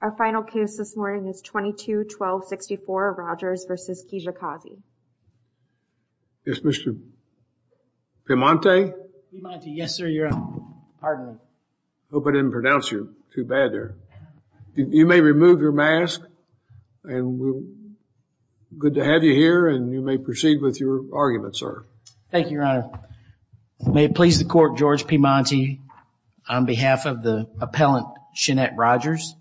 Our final case this morning is 22-12-64, Rogers v. Kijakazi. Yes, Mr. Piemonte? Piemonte, yes sir, your honor. Pardon me. Hope I didn't pronounce you too bad there. You may remove your mask, and we're good to have you here, and you may proceed with your argument, sir. Thank you, your honor. May it please the court, George Piemonte, on behalf of the appellant, Shenette Rogers.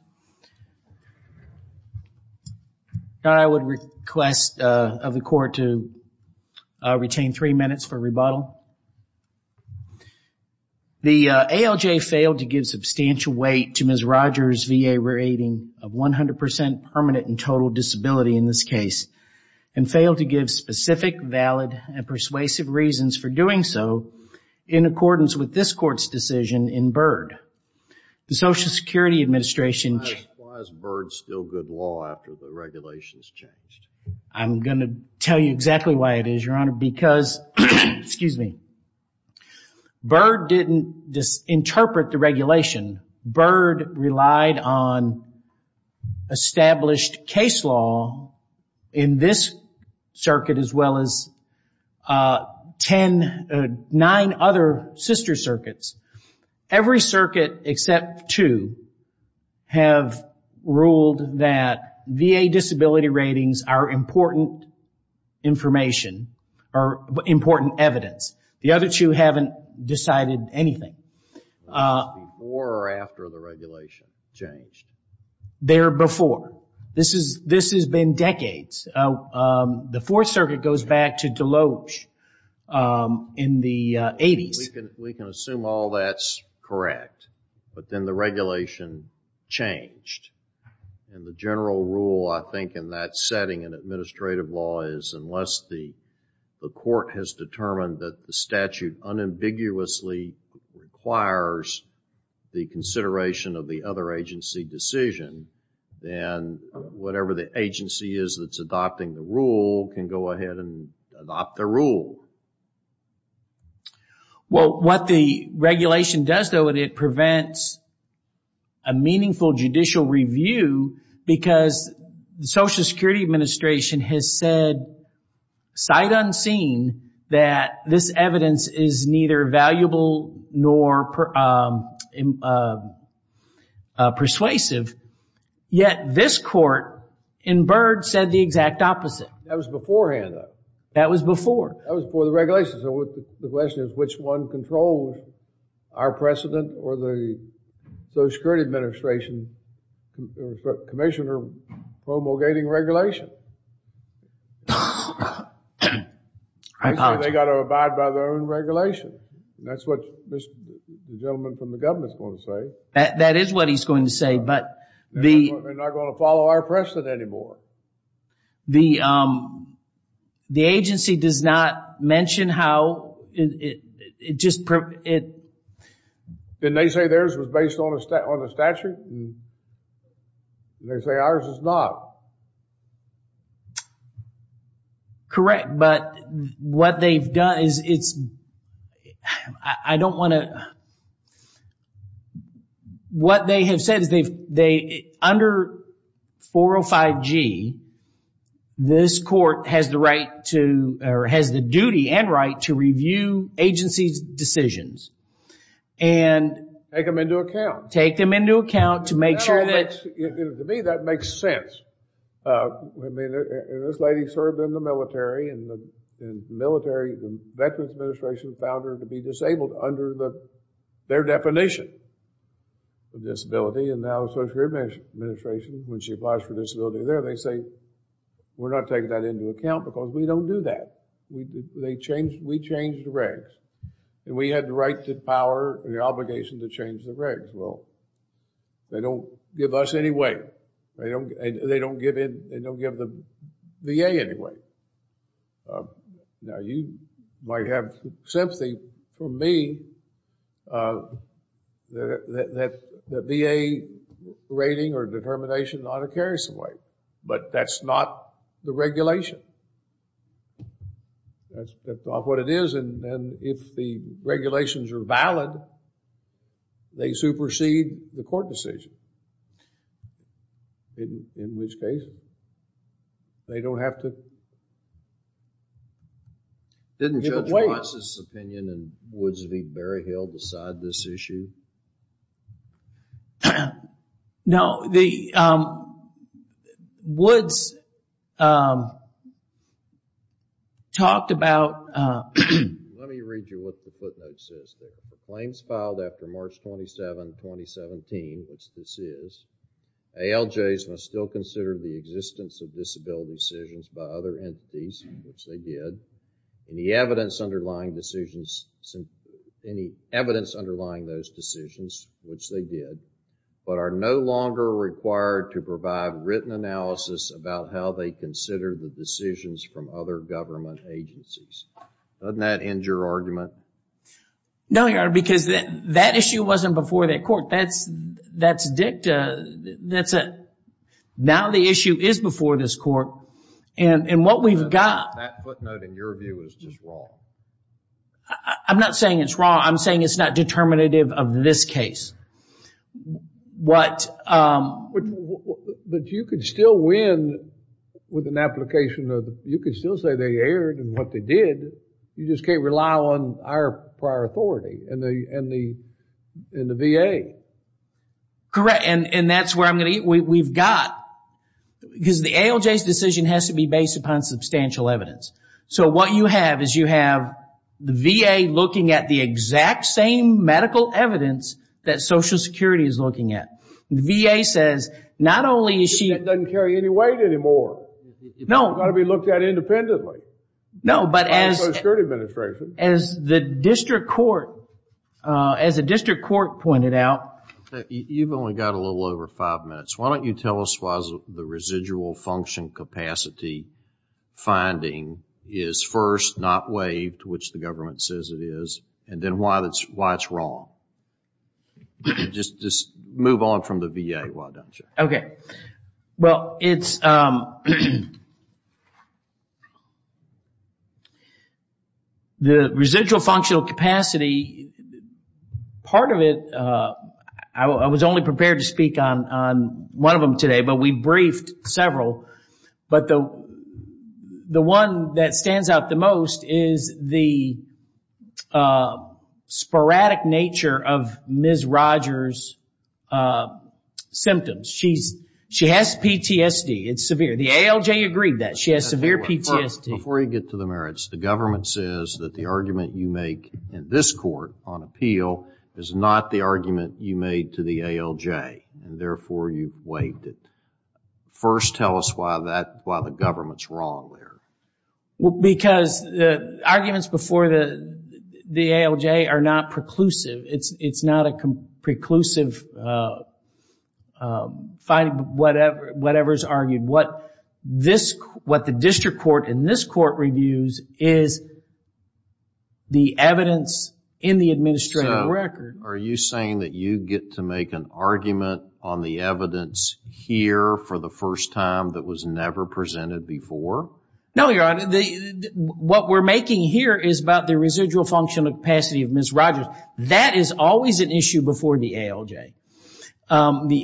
I would request of the court to retain three minutes for rebuttal. The ALJ failed to give substantial weight to Ms. Rogers' VA rating of 100% permanent and total disability in this case, and failed to give specific, valid, and persuasive reasons for doing so in accordance with this court's decision in Byrd. The Social Security Administration... Why is Byrd still good law after the regulations changed? I'm going to tell you exactly why it is, your honor, because... Excuse me. Byrd didn't interpret the regulation. Byrd relied on established case law in this circuit, as well as nine other sister circuits. Every circuit except two have ruled that VA disability ratings are important information, or important evidence. The other two haven't decided anything. Before or after the regulation changed? There before. This has been decades. The Fourth Circuit goes back to Deloge in the 80s. We can assume all that's correct, but then the regulation changed. The general rule, I think, in that setting in administrative law is, unless the court has determined that the statute unambiguously requires the consideration of the other agency decision, then whatever the agency is that's adopting the rule can go ahead and adopt the rule. Well, what the regulation does, though, it prevents a meaningful judicial review, because the Social Security Administration has said, sight unseen, that this evidence is neither valuable nor persuasive. Yet this court, in Byrd, said the exact opposite. That was beforehand, though. That was before. That was before the regulation. So the question is, which one controls our precedent, or the Social Security Administration commissioner promulgating regulation? I apologize. They got to abide by their own regulation. That's what the gentleman from the government is going to say. That is what he's going to say, but the... They're not going to follow our precedent anymore. The agency does not mention how it just... Didn't they say theirs was based on the statute? They say ours is not. Correct, but what they've done is it's... I don't want to... What they have said is they've... Under 405G, this court has the right to, or has the duty and right to review agency's decisions and... Take them into account. Take them into account to make sure that... To me, that makes sense. I mean, this lady served in the military, and the military, the Veterans Administration, found her to be disabled under their definition of disability, and now the Social Security Administration, when she applies for disability there, they say, we're not taking that into account because we don't do that. We change the regs, and we have the right, the power, and the obligation to change the regs. Well, they don't give us any way. They don't give the VA any way. Now, you might have sympathy for me that the VA rating or determination ought to carry some weight, but that's not the regulation. That's not what it is, and if the regulations are valid, they supersede the court decision. In which case, they don't have to give a weight. Didn't Judge Watts' opinion in Woods v. Berryhill decide this issue? No. Woods talked about... Let me read you what the footnote says. The claims filed after March 27, 2017, which this is, ALJs must still consider the existence of disability decisions by other entities, which they did, any evidence underlying those decisions, which they did, but are no longer required to provide written analysis about how they consider the decisions from other government agencies. Doesn't that end your argument? No, Your Honor, because that issue wasn't before that court. That's dicta. Now the issue is before this court, and what we've got... That footnote, in your view, is just wrong. I'm not saying it's wrong. I'm saying it's not determinative of this case. But you could still win with an application of... You just can't rely on our prior authority and the VA. Correct, and that's where I'm going to... We've got... Because the ALJ's decision has to be based upon substantial evidence. So what you have is you have the VA looking at the exact same medical evidence that Social Security is looking at. The VA says not only is she... That doesn't carry any weight anymore. No. It's got to be looked at independently. No, but as the district court pointed out... You've only got a little over five minutes. Why don't you tell us why the residual function capacity finding is first not waived, which the government says it is, and then why it's wrong. Just move on from the VA, why don't you? Okay. Well, it's... The residual functional capacity, part of it... I was only prepared to speak on one of them today, but we briefed several. But the one that stands out the most is the sporadic nature of Ms. Rogers' symptoms. She has PTSD. It's severe. The ALJ agreed that. She has severe PTSD. Before you get to the merits, the government says that the argument you make in this court on appeal is not the argument you made to the ALJ, and therefore you waived it. First tell us why the government's wrong there. Because the arguments before the ALJ are not preclusive. It's not a preclusive finding, whatever is argued. What the district court in this court reviews is the evidence in the administrative record. So are you saying that you get to make an argument on the evidence here for the first time that was never presented before? No, Your Honor. What we're making here is about the residual functional capacity of Ms. Rogers. That is always an issue before the ALJ. The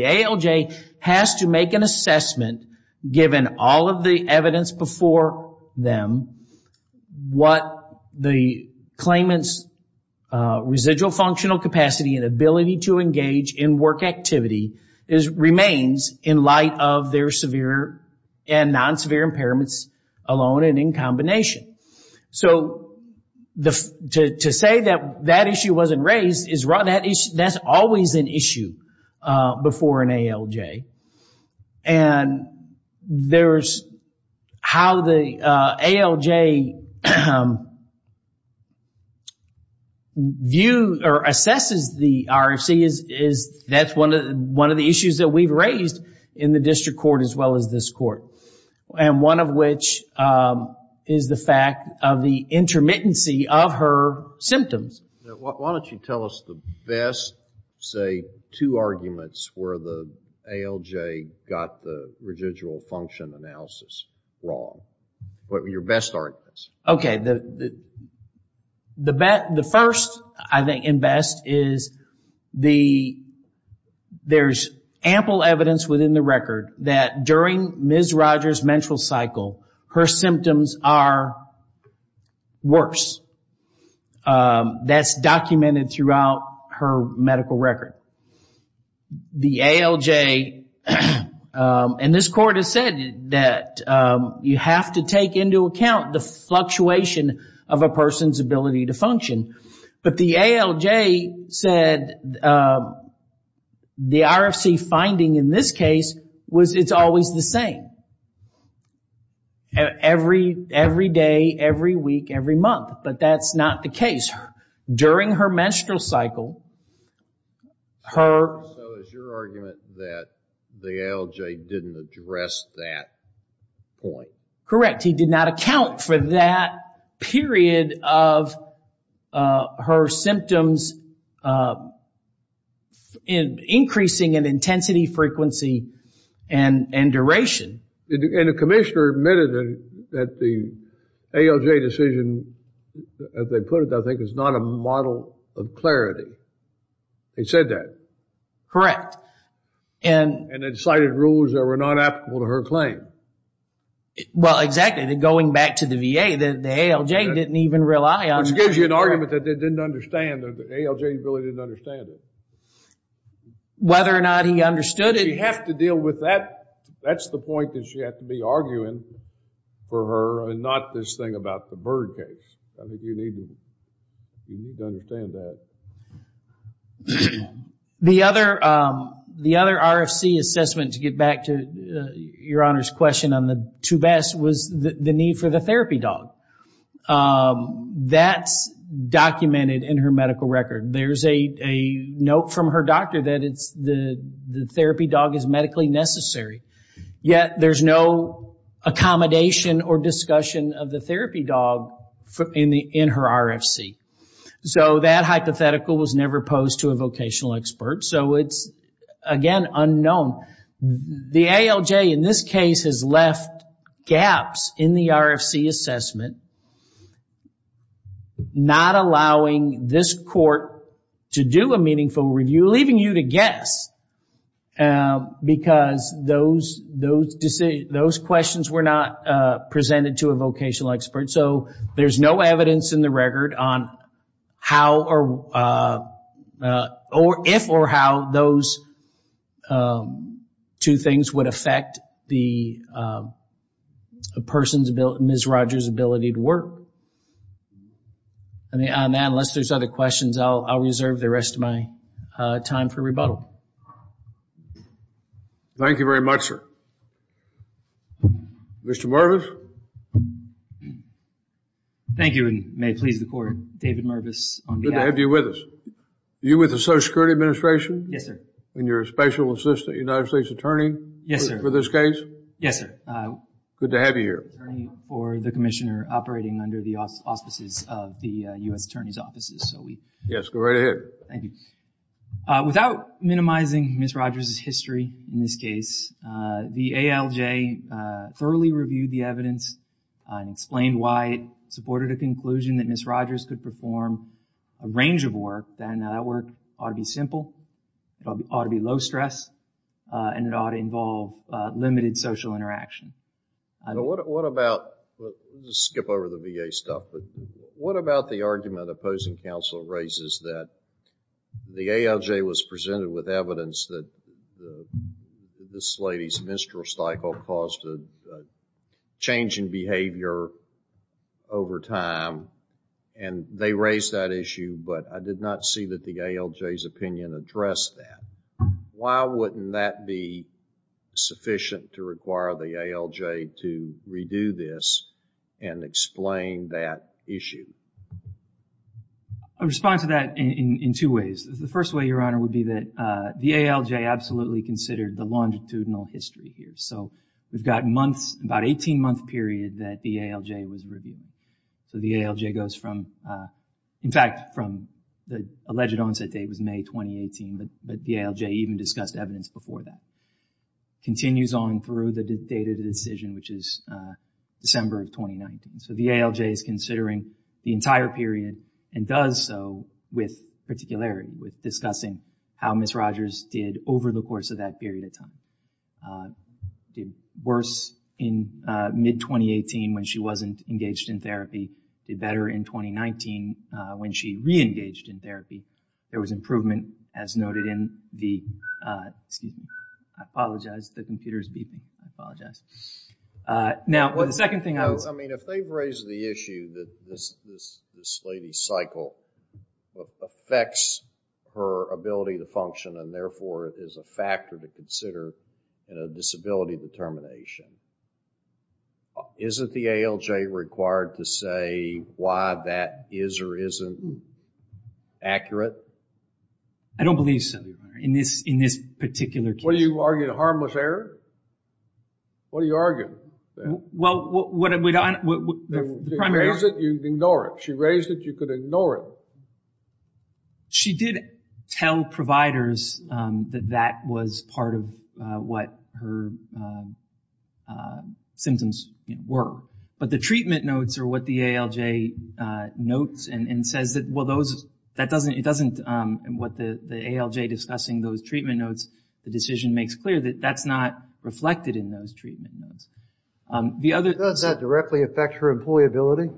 ALJ has to make an assessment, given all of the evidence before them, what the claimant's residual functional capacity and ability to engage in work activity remains in light of their severe and non-severe impairments alone and in combination. So to say that that issue wasn't raised, that's always an issue before an ALJ. And how the ALJ assesses the RFC, that's one of the issues that we've raised in the district court as well as this court, and one of which is the fact of the intermittency of her symptoms. Why don't you tell us the best, say, two arguments where the ALJ got the residual function analysis wrong. Your best arguments. Okay. The first, I think, and best is there's ample evidence within the record that during Ms. Rogers' menstrual cycle, her symptoms are worse. That's documented throughout her medical record. The ALJ, and this court has said that you have to take into account the fluctuation of a person's ability to function. But the ALJ said the RFC finding in this case was it's always the same. Every day, every week, every month. But that's not the case. During her menstrual cycle, her... So it's your argument that the ALJ didn't address that point. Correct. He did not account for that period of her symptoms increasing in intensity, frequency, and duration. And the commissioner admitted that the ALJ decision, as they put it, I think is not a model of clarity. He said that. Correct. And it cited rules that were not applicable to her claim. Well, exactly. Going back to the VA, the ALJ didn't even rely on... Which gives you an argument that they didn't understand. The ALJ really didn't understand it. Whether or not he understood it... We have to deal with that. That's the point that you have to be arguing for her and not this thing about the Byrd case. I think you need to understand that. The other RFC assessment, to get back to Your Honor's question on the two baths, was the need for the therapy dog. That's documented in her medical record. There's a note from her doctor that the therapy dog is medically necessary. Yet there's no accommodation or discussion of the therapy dog in her RFC. So that hypothetical was never posed to a vocational expert. So it's, again, unknown. The ALJ in this case has left gaps in the RFC assessment, not allowing this court to do a meaningful review, leaving you to guess, because those questions were not presented to a vocational expert. So there's no evidence in the record if or how those two things would affect the person's, Ms. Rogers' ability to work. Unless there's other questions, I'll reserve the rest of my time for rebuttal. Thank you very much, sir. Mr. Mervis? Thank you, and may it please the Court, David Mervis on behalf... Good to have you with us. Are you with the Social Security Administration? Yes, sir. And you're a special assistant United States attorney? Yes, sir. For this case? Yes, sir. Good to have you here. Attorney for the commissioner operating under the auspices of the U.S. Attorney's offices. So we... Yes, go right ahead. Thank you. Without minimizing Ms. Rogers' history in this case, the ALJ thoroughly reviewed the evidence and explained why it supported a conclusion that Ms. Rogers could perform a range of work. Then that work ought to be simple, it ought to be low stress, and it ought to involve limited social interaction. What about... Let's skip over the VA stuff, but what about the argument opposing counsel raises that the ALJ was presented with evidence that this lady's menstrual cycle caused a change in behavior over time, and they raised that issue, but I did not see that the ALJ's opinion addressed that. Why wouldn't that be sufficient to require the ALJ to redo this and explain that issue? I respond to that in two ways. The first way, Your Honor, would be that the ALJ absolutely considered the longitudinal history here. So we've got months, about an 18-month period that the ALJ was reviewing. So the ALJ goes from, in fact, from the alleged onset date was May 2018, but the ALJ even discussed evidence before that. Continues on through the date of the decision, which is December of 2019. So the ALJ is considering the entire period and does so with particularity, with discussing how Ms. Rogers did over the course of that period of time. Did worse in mid-2018 when she wasn't engaged in therapy. Did better in 2019 when she re-engaged in therapy. There was improvement, as noted in the, excuse me, I apologize, the computer's beeping. I apologize. Now, the second thing I was. I mean, if they've raised the issue that this lady's cycle affects her ability to function and therefore is a factor to consider in a disability determination, isn't the ALJ required to say why that is or isn't accurate? I don't believe so, Your Honor, in this particular case. What are you arguing, a harmless error? What are you arguing? Well, what I'm... She raised it, you could ignore it. She raised it, you could ignore it. She did tell providers that that was part of what her symptoms were. But the treatment notes are what the ALJ notes and says that, well, those... That doesn't... It doesn't... What the ALJ discussing those treatment notes. The decision makes clear that that's not reflected in those treatment notes. The other... Does that directly affect her employability?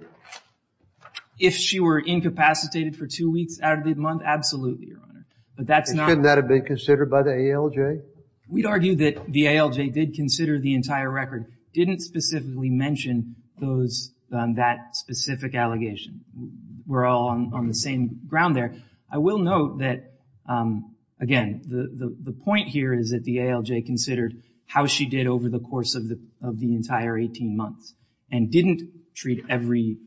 If she were incapacitated for two weeks out of the month, absolutely, Your Honor. But that's not... Couldn't that have been considered by the ALJ? We'd argue that the ALJ did consider the entire record, didn't specifically mention that specific allegation. We're all on the same ground there. I will note that, again, the point here is that the ALJ considered how she did over the course of the entire 18 months and didn't treat every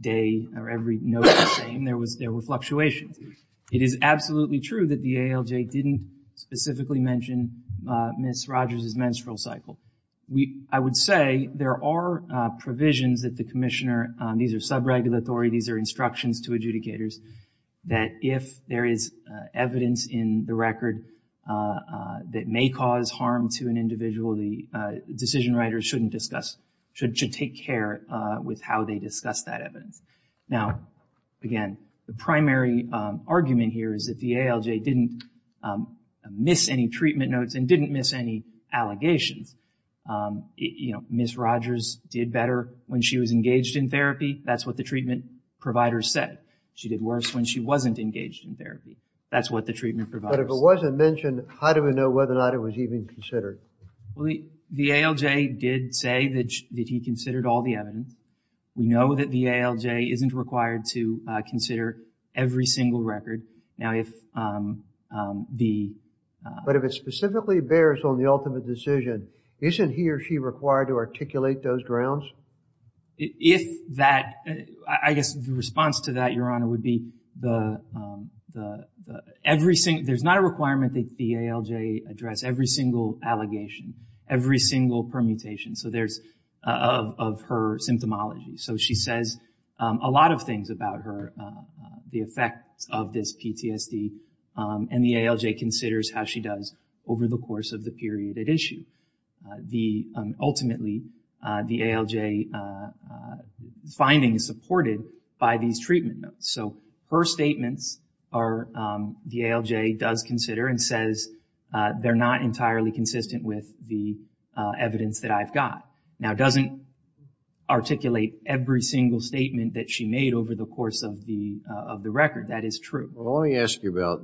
day or every note the same. There were fluctuations. It is absolutely true that the ALJ didn't specifically mention Ms. Rogers' menstrual cycle. I would say there are provisions that the commissioner... These are sub-regulatory. These are instructions to adjudicators that if there is evidence in the record that may cause harm to an individual, the decision writers shouldn't discuss... should take care with how they discuss that evidence. Now, again, the primary argument here is that the ALJ didn't miss any treatment notes and didn't miss any allegations. Ms. Rogers did better when she was engaged in therapy. That's what the treatment provider said. She did worse when she wasn't engaged in therapy. That's what the treatment provider said. But if it wasn't mentioned, how do we know whether or not it was even considered? Well, the ALJ did say that he considered all the evidence. We know that the ALJ isn't required to consider every single record. Now, if the... But if it specifically bears on the ultimate decision, isn't he or she required to articulate those grounds? If that... I guess the response to that, Your Honor, would be the... Every single... There's not a requirement that the ALJ address every single allegation, every single permutation of her symptomology. So she says a lot of things about her, the effects of this PTSD, and the ALJ considers how she does over the course of the period at issue. Ultimately, the ALJ's finding is supported by these treatment notes. So her statements are... The ALJ does consider and says they're not entirely consistent with the evidence that I've got. Now, it doesn't articulate every single statement that she made over the course of the record. That is true. Well, let me ask you about...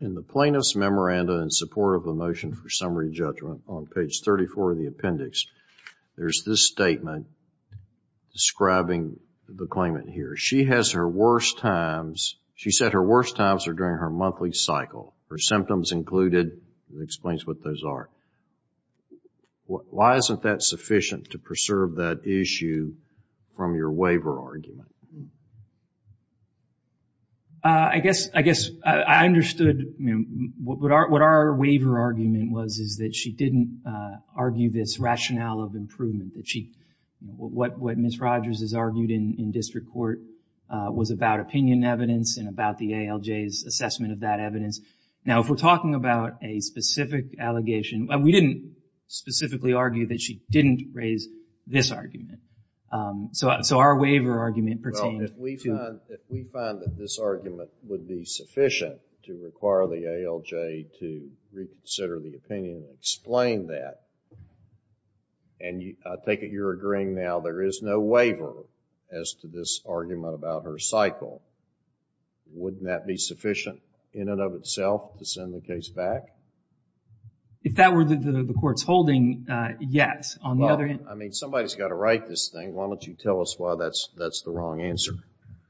In the plaintiff's memoranda in support of the motion for summary judgment on page 34 of the appendix, there's this statement describing the claimant here. She has her worst times... She said her worst times are during her monthly cycle. Her symptoms included. It explains what those are. Why isn't that sufficient to preserve that issue from your waiver argument? I guess I understood... What our waiver argument was is that she didn't argue this rationale of improvement. What Ms. Rogers has argued in district court was about opinion evidence and about the ALJ's assessment of that evidence. Now, if we're talking about a specific allegation, we didn't specifically argue that she didn't raise this argument. So our waiver argument pertained to... Well, if we find that this argument would be sufficient to require the ALJ to reconsider the opinion and explain that, and I take it you're agreeing now there is no waiver as to this argument about her cycle, wouldn't that be sufficient in and of itself to send the case back? If that were the court's holding, yes. Well, I mean, somebody's got to write this thing. Why don't you tell us why that's the wrong answer?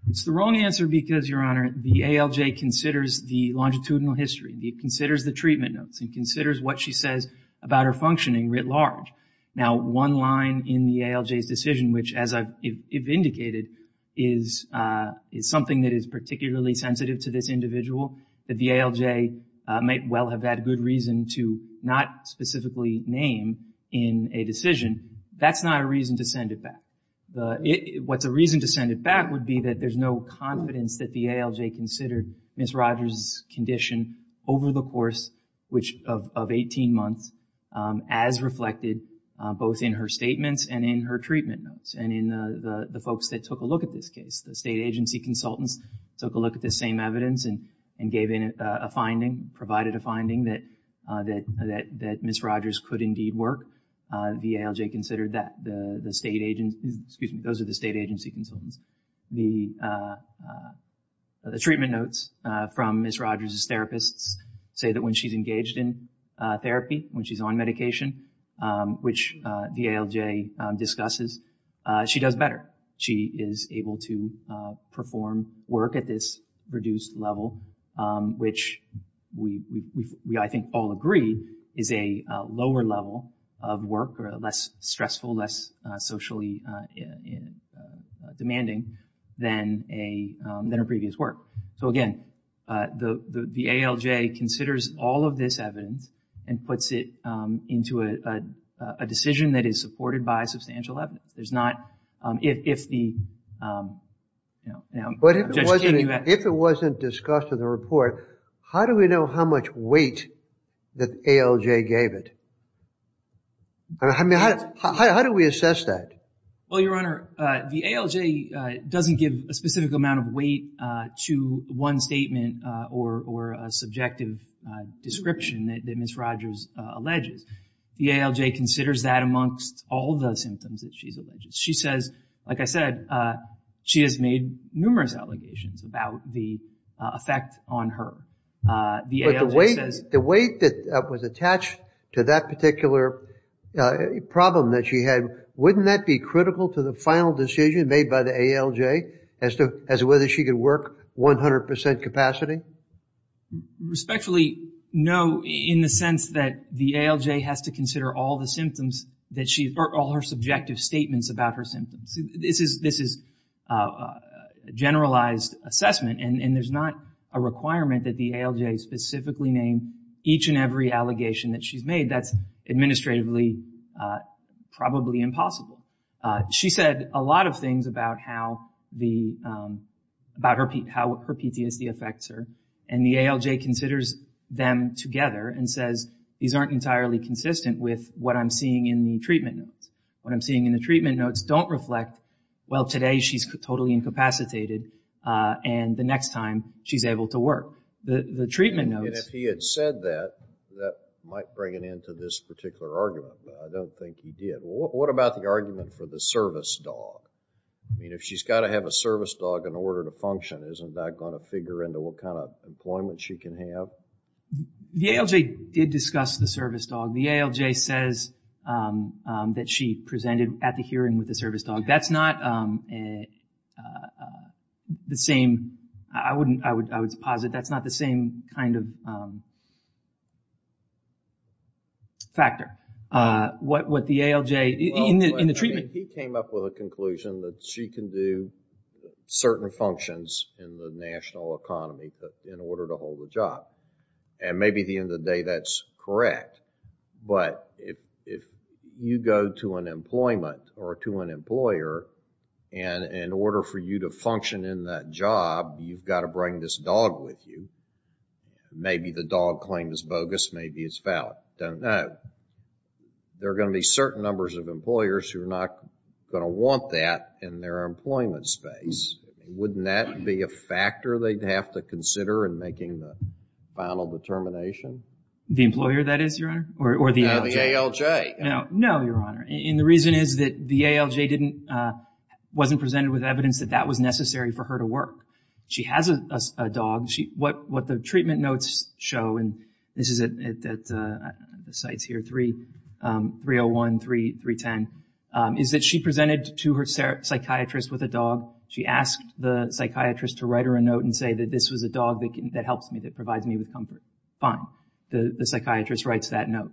It's the wrong answer because, Your Honor, the ALJ considers the longitudinal history. It considers the treatment notes. It considers what she says about her functioning writ large. Now, one line in the ALJ's decision, which, as I've indicated, is something that is particularly sensitive to this individual, that the ALJ might well have had a good reason to not specifically name in a decision, that's not a reason to send it back. What's a reason to send it back would be that there's no confidence that the ALJ considered Ms. Rogers' condition over the course of 18 months as reflected both in her statements and in her treatment notes and in the folks that took a look at this case. The state agency consultants took a look at this same evidence and gave in a finding, provided a finding that Ms. Rogers could indeed work. The ALJ considered that. Those are the state agency consultants. The treatment notes from Ms. Rogers' therapists say that when she's engaged in therapy, when she's on medication, which the ALJ discusses, she does better. But she is able to perform work at this reduced level, which we, I think, all agree, is a lower level of work or less stressful, less socially demanding than her previous work. So, again, the ALJ considers all of this evidence and puts it into a decision that is supported by substantial evidence. If it wasn't discussed in the report, how do we know how much weight the ALJ gave it? How do we assess that? Well, Your Honor, the ALJ doesn't give a specific amount of weight to one statement or a subjective description that Ms. Rogers alleges. The ALJ considers that amongst all of the symptoms that she's alleged. She says, like I said, she has made numerous allegations about the effect on her. But the weight that was attached to that particular problem that she had, wouldn't that be critical to the final decision made by the ALJ as to whether she could work 100 percent capacity? Respectfully, no, in the sense that the ALJ has to consider all the symptoms that she, or all her subjective statements about her symptoms. This is a generalized assessment, and there's not a requirement that the ALJ specifically name each and every allegation that she's made. That's administratively probably impossible. She said a lot of things about how her PTSD affects her, and the ALJ considers them together and says, these aren't entirely consistent with what I'm seeing in the treatment notes. What I'm seeing in the treatment notes don't reflect, well, today she's totally incapacitated, and the next time she's able to work. The treatment notes... And if he had said that, that might bring an end to this particular argument, but I don't think he did. What about the argument for the service dog? I mean, if she's got to have a service dog in order to function, isn't that going to figure into what kind of employment she can have? The ALJ did discuss the service dog. The ALJ says that she presented at the hearing with the service dog. That's not the same. I would posit that's not the same kind of factor. What the ALJ in the treatment... He came up with a conclusion that she can do certain functions in the national economy in order to hold a job. And maybe at the end of the day, that's correct. But if you go to an employment or to an employer, and in order for you to function in that job, you've got to bring this dog with you, maybe the dog claim is bogus, maybe it's valid. There are going to be certain numbers of employers who are not going to want that in their employment space. Wouldn't that be a factor they'd have to consider in making the final determination? The employer, that is, Your Honor, or the ALJ? No, the ALJ. No, Your Honor. And the reason is that the ALJ wasn't presented with evidence that that was necessary for her to work. She has a dog. What the treatment notes show, and this is at the sites here, 301, 310, is that she presented to her psychiatrist with a dog. She asked the psychiatrist to write her a note and say that this was a dog that helps me, that provides me with comfort. Fine. The psychiatrist writes that note.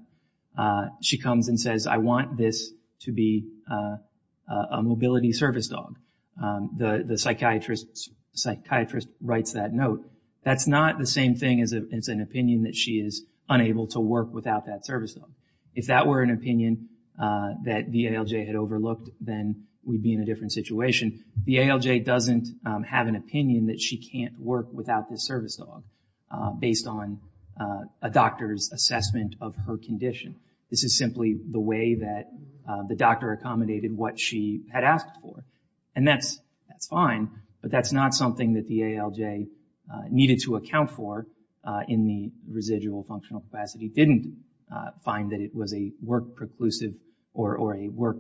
She comes and says, I want this to be a mobility service dog. The psychiatrist writes that note. That's not the same thing as an opinion that she is unable to work without that service dog. If that were an opinion that the ALJ had overlooked, then we'd be in a different situation. The ALJ doesn't have an opinion that she can't work without this service dog based on a doctor's assessment of her condition. This is simply the way that the doctor accommodated what she had asked for. And that's fine, but that's not something that the ALJ needed to account for in the residual functional capacity. Didn't find that it was a work preclusive or a work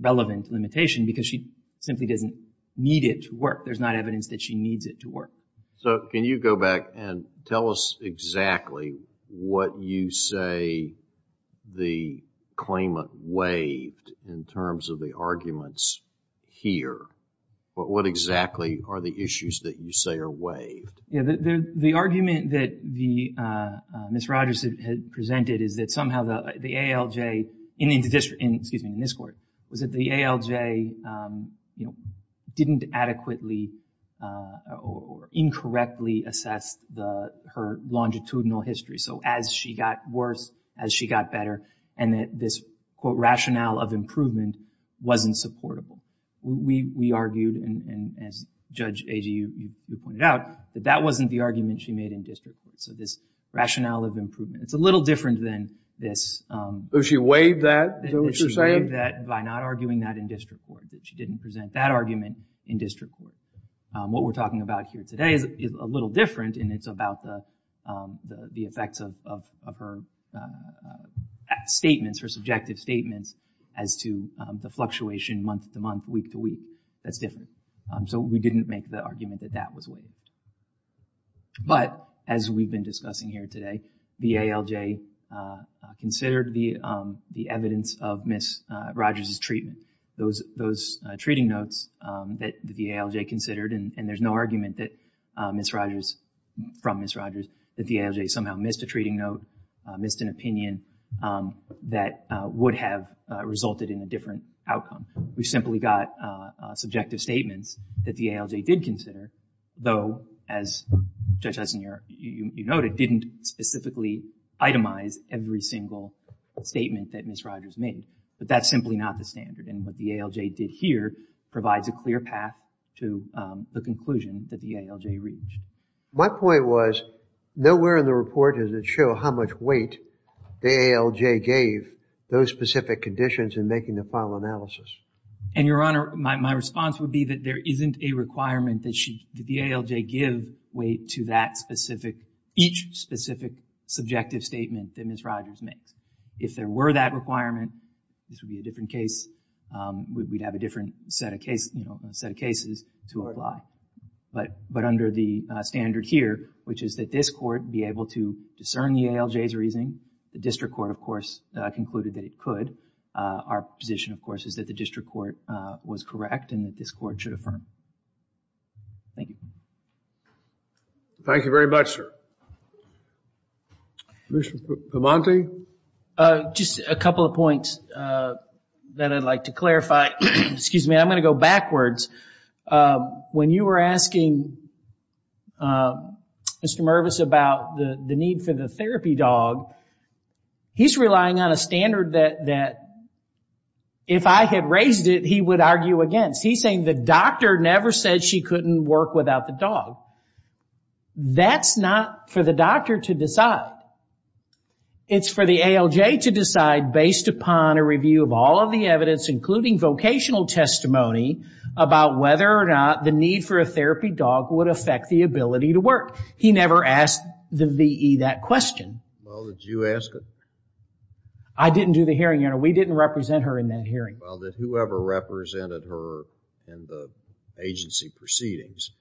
relevant limitation because she simply doesn't need it to work. There's not evidence that she needs it to work. So, can you go back and tell us exactly what you say the claimant waived in terms of the arguments here? What exactly are the issues that you say are waived? The argument that Ms. Rogers had presented is that somehow the ALJ, in this court, was that the ALJ didn't adequately or incorrectly assess her longitudinal history. So, as she got worse, as she got better, and that this, quote, rationale of improvement wasn't supportable. We argued, and as Judge Agee, you pointed out, that that wasn't the argument she made in district court. So, this rationale of improvement, it's a little different than this. So, she waived that? Is that what you're saying? She waived that by not arguing that in district court, that she didn't present that argument in district court. What we're talking about here today is a little different, and it's about the effects of her statements, her subjective statements, as to the fluctuation month-to-month, week-to-week. That's different. So, we didn't make the argument that that was waived. But, as we've been discussing here today, the ALJ considered the evidence of Ms. Rogers' treatment. Those treating notes that the ALJ considered, and there's no argument that Ms. Rogers, from Ms. Rogers, that the ALJ somehow missed a treating note, missed an opinion, that would have resulted in a different outcome. We simply got subjective statements that the ALJ did consider, though, as Judge Eisenhower, you noted, didn't specifically itemize every single statement that Ms. Rogers made. But that's simply not the standard, and what the ALJ did here provides a clear path to the conclusion that the ALJ reached. My point was, nowhere in the report does it show how much weight the ALJ gave those specific conditions in making the final analysis. And, Your Honor, my response would be that there isn't a requirement that the ALJ give weight to that specific, each specific subjective statement that Ms. Rogers makes. If there were that requirement, this would be a different case. We'd have a different set of cases to apply. But under the standard here, which is that this court be able to discern the ALJ's reasoning, the district court, of course, concluded that it could. Our position, of course, is that the district court was correct and that this court should affirm. Thank you. Thank you very much, sir. Commissioner Piemonte? Just a couple of points that I'd like to clarify. Excuse me, I'm going to go backwards. When you were asking Mr. Mervis about the need for the therapy dog, he's relying on a standard that if I had raised it, he would argue against. He's saying the doctor never said she couldn't work without the dog. That's not for the doctor to decide. It's for the ALJ to decide based upon a review of all of the evidence, including vocational testimony about whether or not the need for a therapy dog would affect the ability to work. He never asked the VE that question. Well, did you ask it? I didn't do the hearing. We didn't represent her in that hearing. Well, did whoever represented her in the agency proceedings,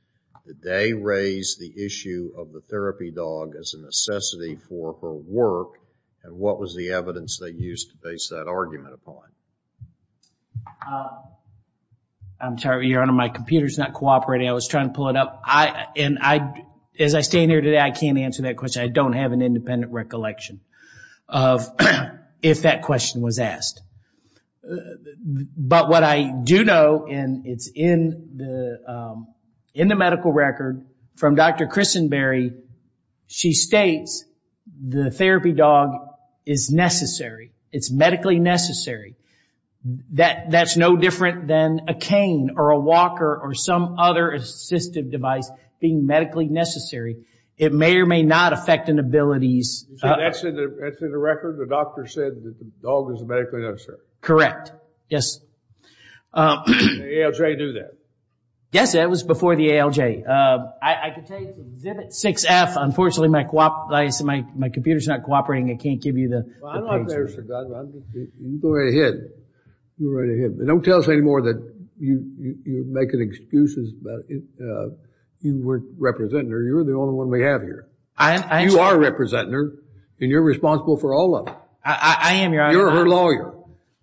did they raise the issue of the therapy dog as a necessity for her work, and what was the evidence they used to base that argument upon? I'm sorry, Your Honor. My computer's not cooperating. I was trying to pull it up. As I stand here today, I can't answer that question. I don't have an independent recollection of if that question was asked. But what I do know, and it's in the medical record from Dr. Christenberry, she states the therapy dog is necessary. It's medically necessary. That's no different than a cane or a walker or some other assistive device being medically necessary. It may or may not affect an ability's... Yes, sir. Correct. Yes. Did the ALJ do that? Yes, that was before the ALJ. I can tell you it's exhibit 6F. Unfortunately, my computer's not cooperating. I can't give you the page. You go right ahead. You go right ahead. But don't tell us anymore that you're making excuses about you weren't representing her. You're the only one we have here. You are representing her, and you're responsible for all of it. I am, Your Honor. You're her lawyer.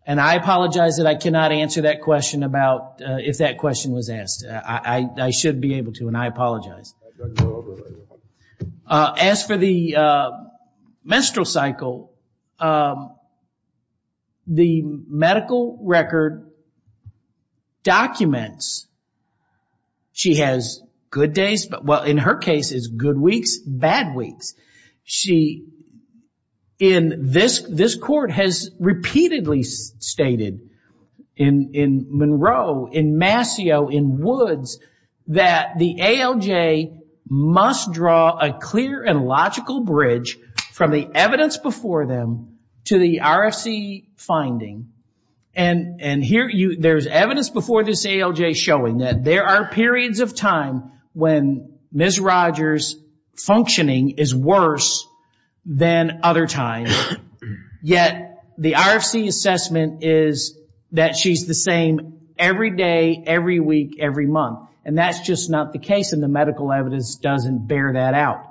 And I apologize that I cannot answer that question about if that question was asked. I should be able to, and I apologize. As for the menstrual cycle, the medical record documents she has good days. Well, in her case, it's good weeks, bad weeks. She, in this court, has repeatedly stated in Monroe, in Mascio, in Woods, that the ALJ must draw a clear and logical bridge from the evidence before them to the RFC finding. And there's evidence before this ALJ showing that there are periods of time when Ms. Rogers' functioning is worse than other times, yet the RFC assessment is that she's the same every day, every week, every month. And that's just not the case, and the medical evidence doesn't bear that out.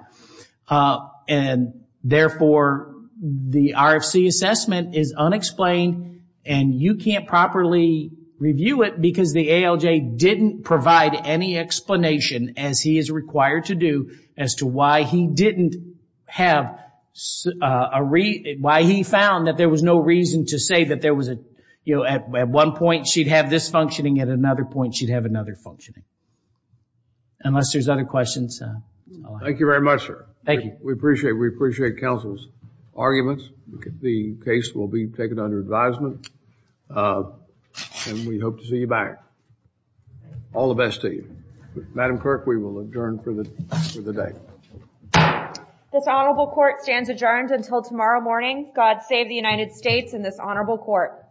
And, therefore, the RFC assessment is unexplained, and you can't properly review it because the ALJ didn't provide any explanation, as he is required to do, as to why he didn't have a reason, why he found that there was no reason to say that there was a, you know, at one point she'd have this functioning, at another point she'd have another functioning. Unless there's other questions. Thank you very much, sir. Thank you. We appreciate, we appreciate counsel's arguments. The case will be taken under advisement, and we hope to see you back. All the best to you. Madam Clerk, we will adjourn for the day. This honorable court stands adjourned until tomorrow morning. God save the United States and this honorable court.